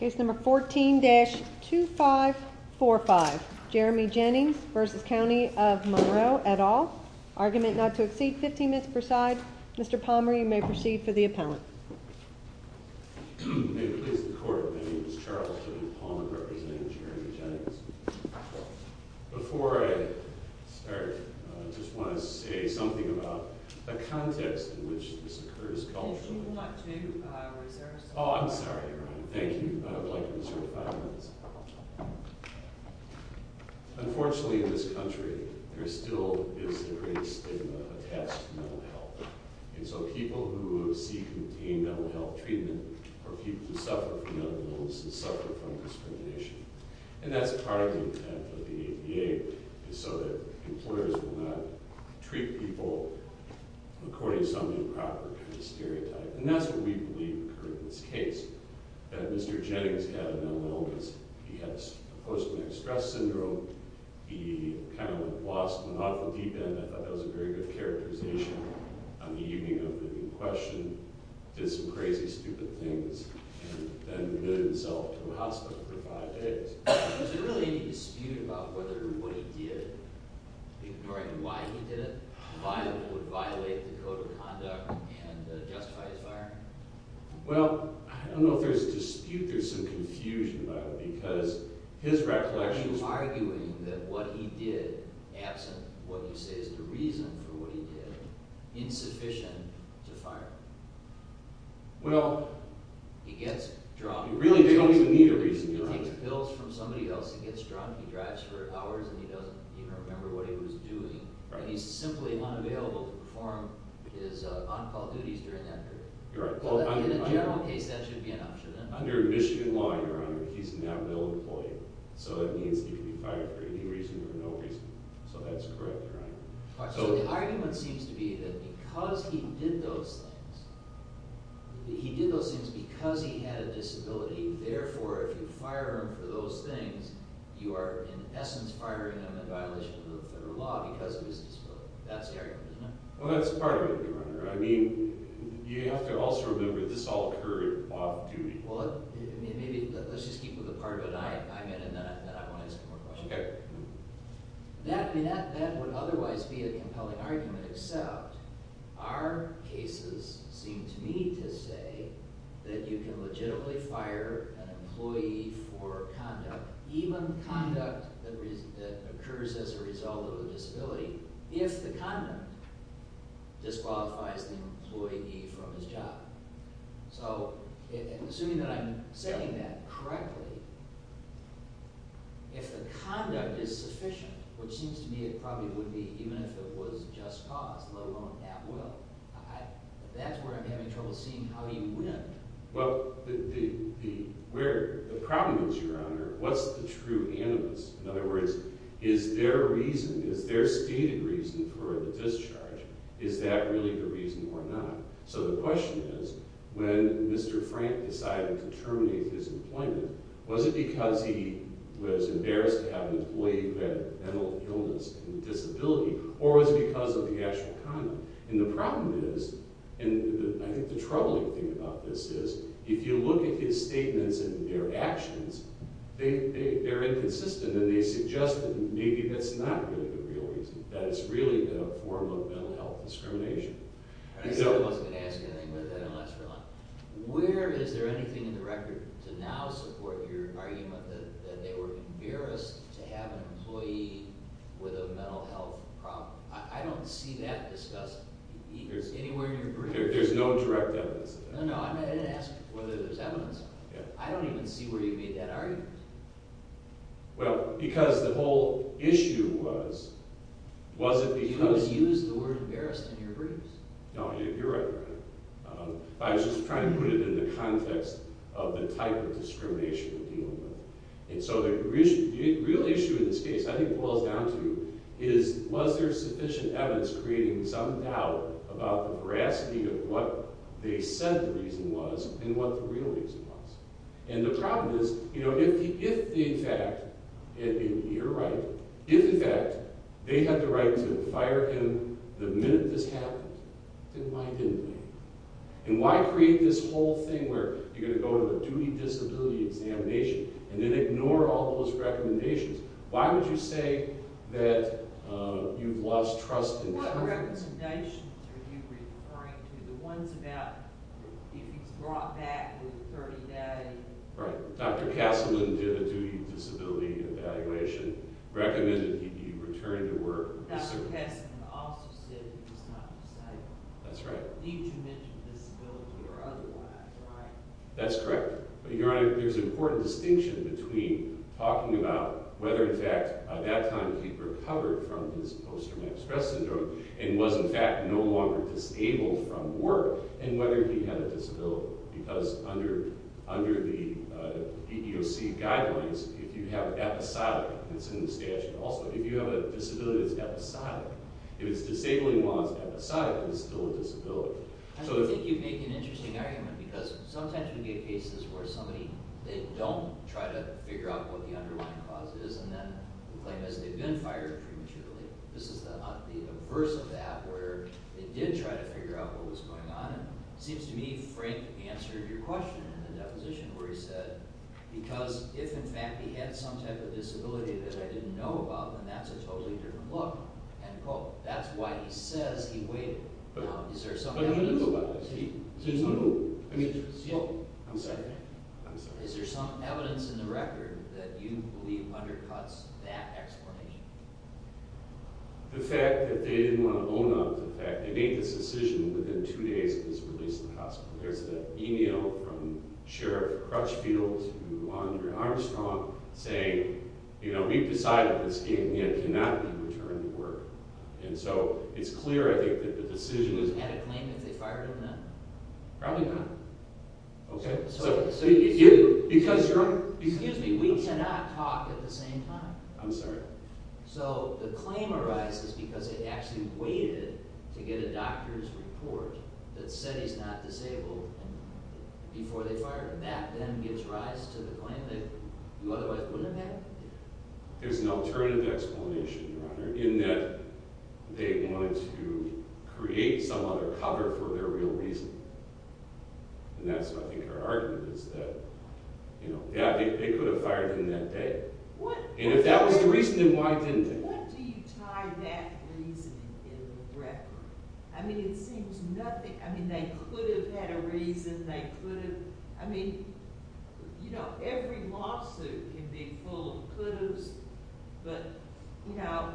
Case number 14-2545. Jeremy Jennings v. County of Monroe, et al. Argument not to exceed 15 minutes per side. Mr. Palmer, you may proceed for the appellant. May it please the Court. My name is Charles William Palmer, representing Jeremy Jennings. Before I start, I just want to say something about the context in which this occurred. Unfortunately, in this country, there still is a great stigma attached to mental health. And so people who seek and attain mental health treatment are people who suffer from mental illness and suffer from discrimination. And that's part of the intent of the ADA, is so that employers will not treat people according to some improper kind of stereotype. And that's what we believe occurred in this case, that Mr. Jennings had a mental illness. He had post-traumatic stress syndrome. He kind of lost an awful deep end. I thought that was a very good characterization on the evening of the question. Did some crazy, stupid things and then admitted himself to a hospital for five days. Was there really any dispute about whether what he did, ignoring why he did it, would violate the code of conduct and justify his firing? Well, I don't know if there's a dispute. There's some confusion about it because his recollection Are you arguing that what he did, absent what you say is the reason for what he did, is insufficient to fire him? Well... He gets dropped. Really, they don't even need a reason, Your Honor. He takes pills from somebody else, he gets drunk, he drives for hours and he doesn't even remember what he was doing. And he's simply unavailable to perform his on-call duties during that period. You're right. In a general case, that should be an option. Under Michigan law, Your Honor, he's a now-billed employee. So that means he could be fired for any reason or no reason. So that's correct, Your Honor. So the argument seems to be that because he did those things, he did those things because he had a disability. Therefore, if you fire him for those things, you are in essence firing him in violation of the federal law because of his disability. That's the argument, isn't it? Well, that's part of it, Your Honor. I mean, you have to also remember this all occurred off-duty. Well, let's just keep with the part of it I meant and then I won't ask any more questions. Okay. That would otherwise be a compelling argument, except our cases seem to me to say that you can legitimately fire an employee for conduct, even conduct that occurs as a result of a disability, if the conduct disqualifies the employee from his job. So, assuming that I'm saying that correctly, if the conduct is sufficient, which seems to me it probably would be, even if it was just cause, let alone at will, that's where I'm having trouble seeing how you wouldn't. Well, the problem is, Your Honor, what's the true animus? In other words, is there a reason, is there a stated reason for the discharge? Is that really the reason or not? So the question is, when Mr. Frank decided to terminate his employment, was it because he was embarrassed to have an employee who had a mental illness and disability or was it because of the actual conduct? And the problem is, and I think the troubling thing about this is, if you look at his statements and their actions, they're inconsistent and they suggest that maybe that's not really the real reason, that it's really a form of mental health discrimination. I guess I wasn't going to ask anything with that unless you were like, where is there anything in the record to now support your argument that they were embarrassed to have an employee with a mental health problem? I don't see that discussed anywhere in your briefs. There's no direct evidence of that. No, no, I didn't ask whether there's evidence of that. I don't even see where you made that argument. Well, because the whole issue was, was it because Do you not use the word embarrassed in your briefs? No, you're right, Your Honor. I was just trying to put it in the context of the type of discrimination we're dealing with. And so the real issue in this case, I think boils down to, is was there sufficient evidence creating some doubt about the veracity of what they said the reason was and what the real reason was? And the problem is, if in fact, and you're right, if in fact they had the right to fire him the minute this happened, then why didn't you do that? Why didn't you do the whole thing where you're going to go to the duty disability examination and then ignore all those recommendations? Why would you say that you've lost trust in What recommendations are you referring to? The ones about if he's brought back in 30 days? Right. Dr. Kasselman did a duty disability evaluation, recommended he be returned to work. Dr. Kasselman also said he was not disabled. That's right. I believe you mentioned disability or otherwise, right? That's correct. Your Honor, there's an important distinction between talking about whether in fact by that time he'd recovered from his post-traumatic stress syndrome and was in fact no longer disabled from work and whether he had a disability. Because under the EEOC guidelines, if you have episodic, it's in the statute also, if you have a disability that's episodic. If it's disabling while it's episodic, it's still a disability. I think you make an interesting argument because sometimes we get cases where somebody, they don't try to figure out what the underlying cause is and then claim as they've been fired prematurely. This is the averse of that where they did try to figure out what was going on and it seems to me Frank answered your question in the deposition where he said because if in fact he had some type of disability that I didn't know about, then that's a totally different look and quote. That's why he says he waited. Is there some evidence in the record that you believe undercuts that explanation? The fact that they didn't want to own up to the fact that they made this decision within two days of his release from the hospital. There's that email from Sheriff Crutchfield to Andre Armstrong saying, you know, we've decided this game cannot be returned to work. And so it's clear, I think, that the decision is... Would you have had a claim if they fired him then? Probably not. Okay, so... Excuse me, we cannot talk at the same time. I'm sorry. So the claim arises because they actually waited to get a doctor's report that said he's not otherwise wouldn't have had it? There's an alternative explanation, Your Honor, in that they wanted to create some other cover for their real reason. And that's, I think, our argument is that, you know, yeah, they could have fired him that day. And if that was the reason, then why didn't they? What do you tie that reasoning in the record? I mean, it seems nothing... I mean, they could have had a reason. They could have... I mean, you know, every lawsuit can be full of could-haves. But, you know,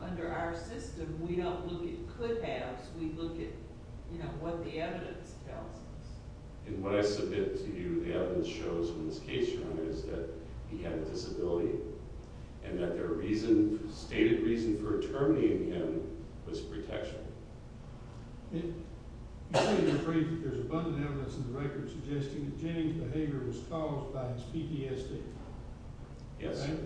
under our system, we don't look at could-haves. We look at, you know, what the evidence tells us. In what I submit to you, the evidence shows in this case, Your Honor, is that he had a disability and that their reason, stated reason for determining him was protection. You say you're afraid that there's abundant evidence in the record suggesting that James' behavior was caused by his PTSD. Yes, sir.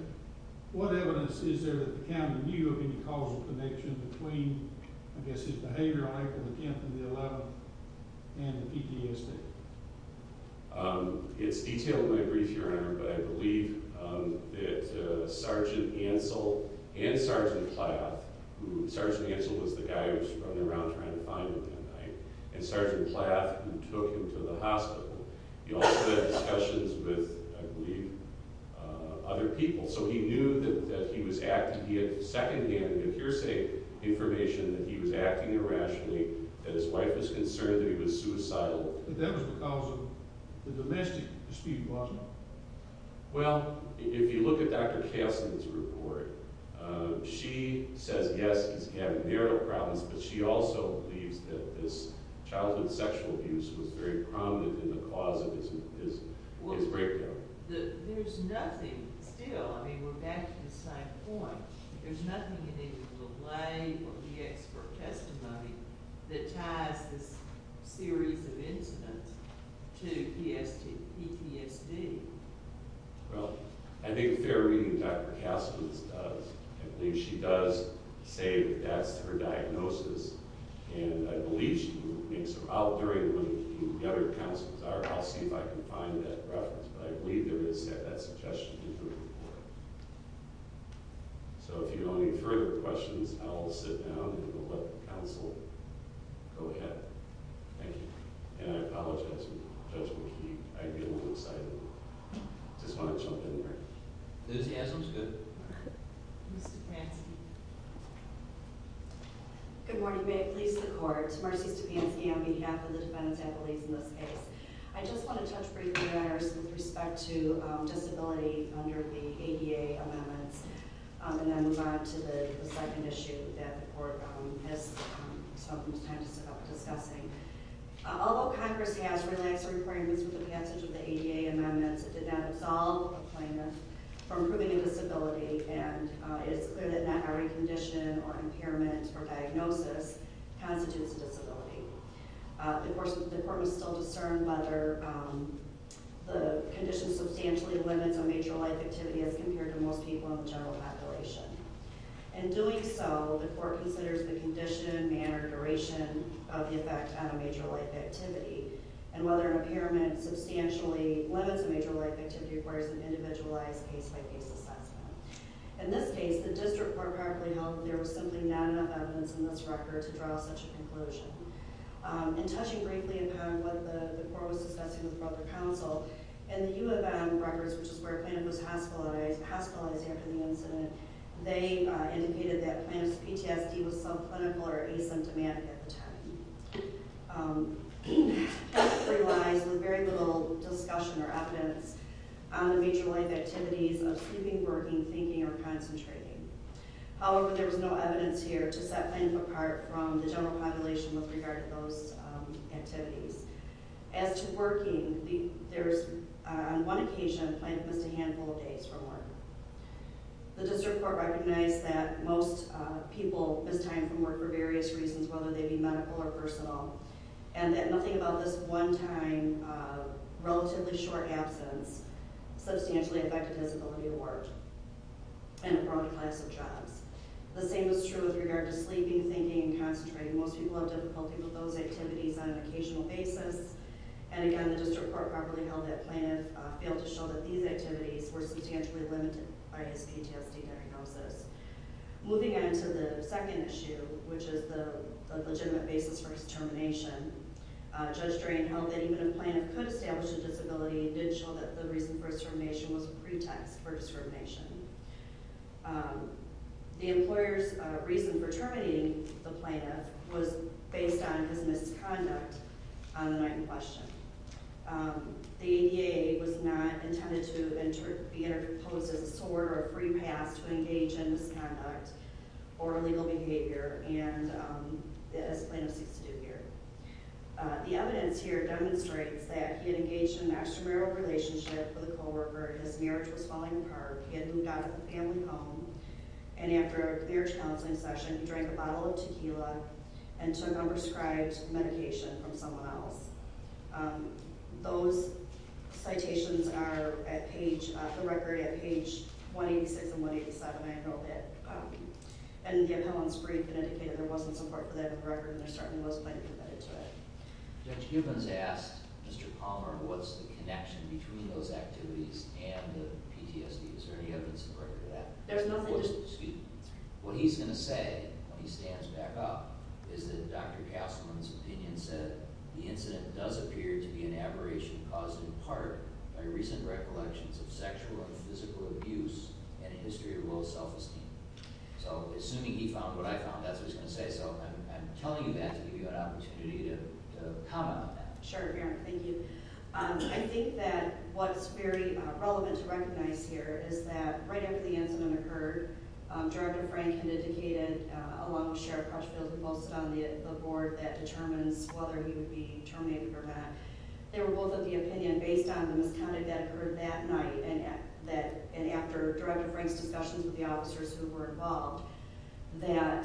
What evidence is there that the county knew of any causal connection between, I guess, his behavior-like attempt in the 11th and the PTSD? It's detailed in my brief, Your Honor, but I believe that Sergeant Ansel and Sergeant Plath, who... Sergeant Ansel was the guy who was running around trying to find him that night, and Sergeant Plath, who took him to the hospital. He also had discussions with, I believe, other people, so he knew that he was acting... He had second-hand hearsay information that he was acting irrationally, that his wife was concerned that he was suicidal. But that was because of the domestic dispute, wasn't it? Well, if you look at Dr. Kastner's report, she says, yes, he's having marital problems, but she also believes that this childhood sexual abuse was very prominent in the cause of his breakdown. Well, there's nothing still... I mean, we're back to the same point. There's nothing in the lay or the expert testimony that ties this series of incidents to PTSD. Well, I think fair reading, Dr. Kastner does. I believe she does say that that's her diagnosis, and I believe she makes her out during when the other counsels are. I'll see if I can find that reference, but I believe there is that suggestion in her report. So if you have any further questions, I'll sit down and we'll let counsel go ahead. Thank you. And I apologize, Judge McKee, I get a little excited. Just want to jump in here. Enthusiasm's good. Ms. Stefanski. Good morning. May it please the Court, Mercy Stefanski on behalf of the defendants and the ladies in this case. I just want to touch briefly on matters with respect to disability under the ADA amendments and then move on to the second issue that the Court has spoken to time to discussing. Although Congress has relaxed requirements with the passage of the ADA amendments, it did not absolve the claimant from proving a disability, and it is clear that not every condition or impairment or diagnosis constitutes a disability. Of course, the Court must still discern whether the condition substantially limits a major life activity as compared to most people in the general population. In doing so, the Court considers the condition, manner, duration of the effect on a major life activity, and whether an impairment substantially limits a major life activity requires an individualized case-by-case assessment. In this case, the district court practically held that there was simply not enough evidence in this record to draw such a conclusion. In touching briefly upon what the Court was discussing with the Brother Council, in the U of M records, which is where a claimant was hospitalized after the incident, they indicated that a claimant's PTSD was subclinical or asymptomatic at the time. This relies with very little discussion or evidence on the major life activities of sleeping, working, thinking, or concentrating. However, there was no evidence here to set a claimant apart from the general population with regard to those activities. As to working, on one occasion, the claimant missed a handful of days from work. The district court recognized that most people missed time from work for various reasons, whether they be medical or personal, and that nothing about this one time, relatively short absence, substantially affected his ability to work in a broad class of jobs. The same is true with regard to sleeping, thinking, and concentrating. Most people have difficulty with those activities on an occasional basis, and again, the district court properly held that a claimant failed to show that these activities were substantially limited by his PTSD diagnosis. Moving on to the second issue, which is the legitimate basis for his termination, Judge Smith did show that the reason for his termination was a pretext for discrimination. The employer's reason for terminating the plaintiff was based on his misconduct on the night in question. The ADA was not intended to be interposed as a sword or a free pass to engage in misconduct or illegal behavior, as plaintiffs used to do here. The evidence here demonstrates that he had engaged in an extramarital relationship with a co-worker, his marriage was falling apart, he had moved out of the family home, and after a marriage counseling session, he drank a bottle of tequila and took unprescribed medication from someone else. Those citations are at page, the record at page 186 and 187, I know that. And again, Helen's brief had indicated there wasn't support for that in the record, and there certainly was plaintiff medication. Judge Gibbons asked Mr. Palmer what's the connection between those activities and the PTSD. Is there any evidence to support that? There's no evidence. What he's going to say when he stands back up is that Dr. Kasselman's opinion said the incident does appear to be an aberration caused in part by recent recollections of sexual and physical abuse and a history of low self-esteem. So, assuming he found what I found, that's what he's going to say, so I'm telling you that to give you an opportunity to comment on that. Sure, thank you. I think that what's very relevant to recognize here is that right after the incident occurred, Director Frank had indicated, along with Sheriff Crutchfield, who posted on the board that determines whether he would be terminated or not, they were both of the opinion based on the misconduct that occurred that night and after Director Frank's discussions with the officers who were involved, that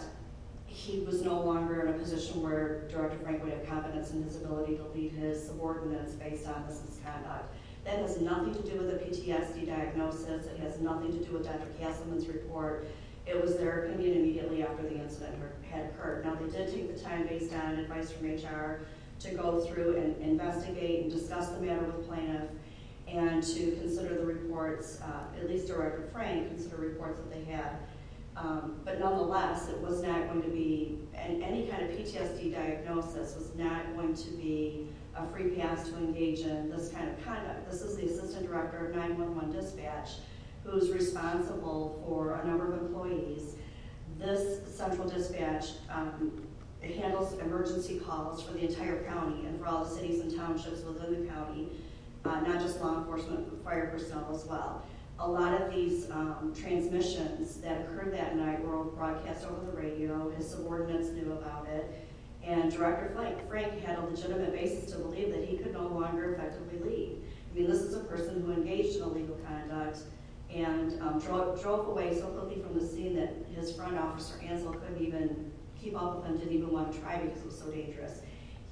he was no longer in a position where Director Frank would have confidence in his ability to lead his subordinates based on the misconduct. That has nothing to do with the PTSD diagnosis. It has nothing to do with Dr. Kasselman's report. It was their opinion immediately after the incident had occurred. Now, they did take the time based on advice from HR to go through and investigate and discuss the matter with the plaintiff and to consider the reports, at least Director Kasselman said that they had. But nonetheless, it was not going to be, any kind of PTSD diagnosis was not going to be a free pass to engage in this kind of conduct. This is the Assistant Director of 911 Dispatch, who is responsible for a number of employees. This central dispatch handles emergency calls for the entire county and for all the cities and townships within the county, not just law enforcement, fire personnel as well. A lot of these transmissions that occurred that night were broadcast over the radio. His subordinates knew about it. And Director Frank had a legitimate basis to believe that he could no longer effectively lead. I mean, this is a person who engaged in illegal conduct and drove away so quickly from the scene that his front officer, Ansel, couldn't even keep up with him, didn't even want to try because it was so dangerous.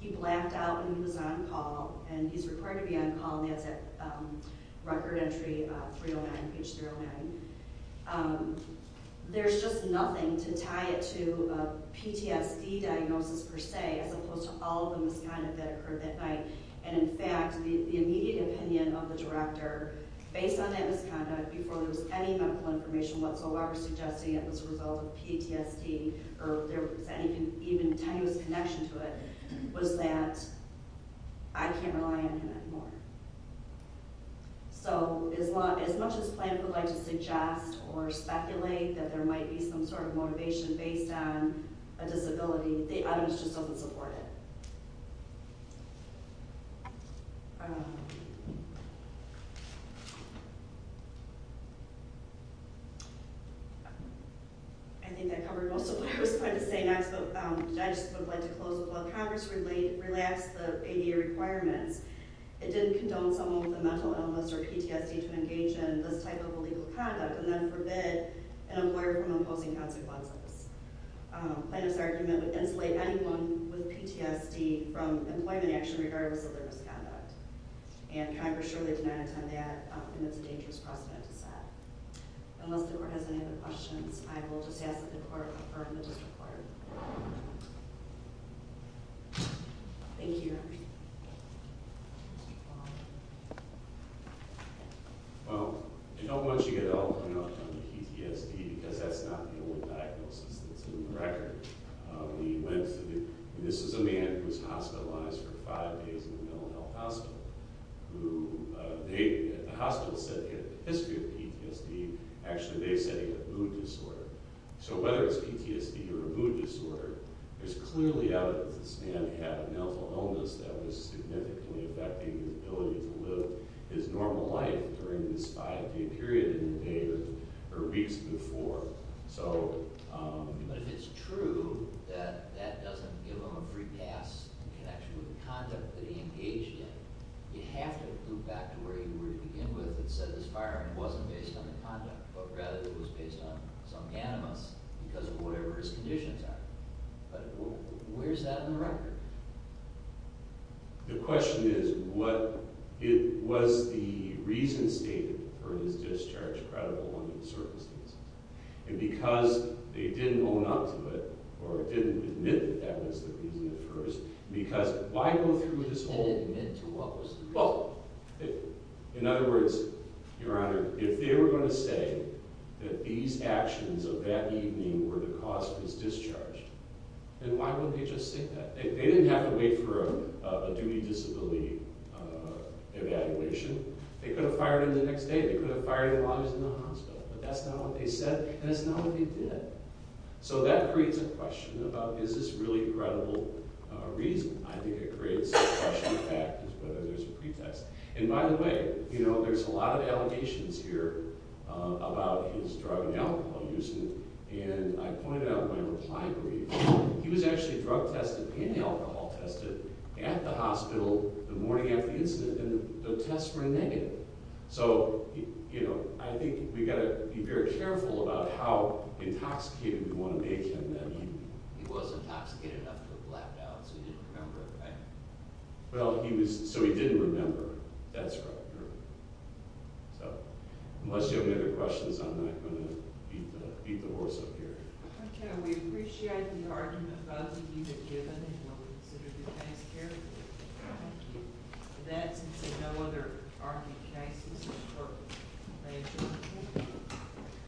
He blacked out when he was on call. And he's required to be on call, and that's at record entry 309, page 309. There's just nothing to tie it to a PTSD diagnosis per se, as opposed to all of the misconduct that occurred that night. And in fact, the immediate opinion of the director, based on that misconduct, before there was any medical information whatsoever suggesting it was a result of PTSD or there was any even tenuous connection to it, was that I can't rely on him anymore. So as much as Plante would like to suggest or speculate that there might be some sort of motivation based on a disability, the evidence just doesn't support it. I think that covered most of what I was going to say next, but I just would like to close with while Congress relaxed the ADA requirements, it didn't condone someone with a mental illness or PTSD to engage in this type of illegal conduct and then forbid an employer from imposing consequences. Plante's argument would insulate anyone with PTSD from employment action regardless of their misconduct. And Congress surely did not intend that, and it's a dangerous precedent to set. Unless the Court has any other questions, I will just ask that the Court refer to the District Court. Thank you. Well, I don't want you to get all hung up on the PTSD, because that's not the only diagnosis that's in the record. This is a man who was hospitalized for five days in a mental health hospital. The hospital said he had a history of PTSD. Actually, they said he had a mood disorder. So whether it's PTSD or a mood disorder, there's clearly evidence that this man had a mental illness that was significantly affecting his ability to live his normal life during this five-day period in the day or weeks before. But if it's true that that doesn't give him a free pass in connection with the conduct that he engaged in, you'd have to loop back to where you were to begin with. It said this firearm wasn't based on the conduct, but rather it was based on some animus because of whatever his conditions are. But where is that in the record? The question is, was the reason stated for his discharge credible under the circumstances? And because they didn't own up to it, or didn't admit that that was the reason at first, because why go through with this whole… They didn't admit to what was the reason. Well, in other words, Your Honor, if they were going to say that these actions of that evening were the cause of his discharge, then why wouldn't they just say that? They didn't have to wait for a duty disability evaluation. They could have fired him the next day. They could have fired him while he was in the hospital. But that's not what they said, and that's not what they did. So that creates a question about, is this really a credible reason? I think it creates a question of fact as to whether there's a pretext. And by the way, there's a lot of allegations here about his drug and alcohol use. And I pointed out in my reply brief, he was actually drug tested and alcohol tested at the hospital the morning after the incident, and the tests were negative. So, you know, I think we've got to be very careful about how intoxicated we want to make him that evening. He was intoxicated after the blackout, so he didn't remember, right? Well, he was – so he didn't remember. That's right, Your Honor. So unless you have any other questions, I'm not going to beat the horse up here. Okay. We appreciate the argument both of you have given, and we'll consider doing things carefully. With that, since there are no other arguing cases, we're adjourned.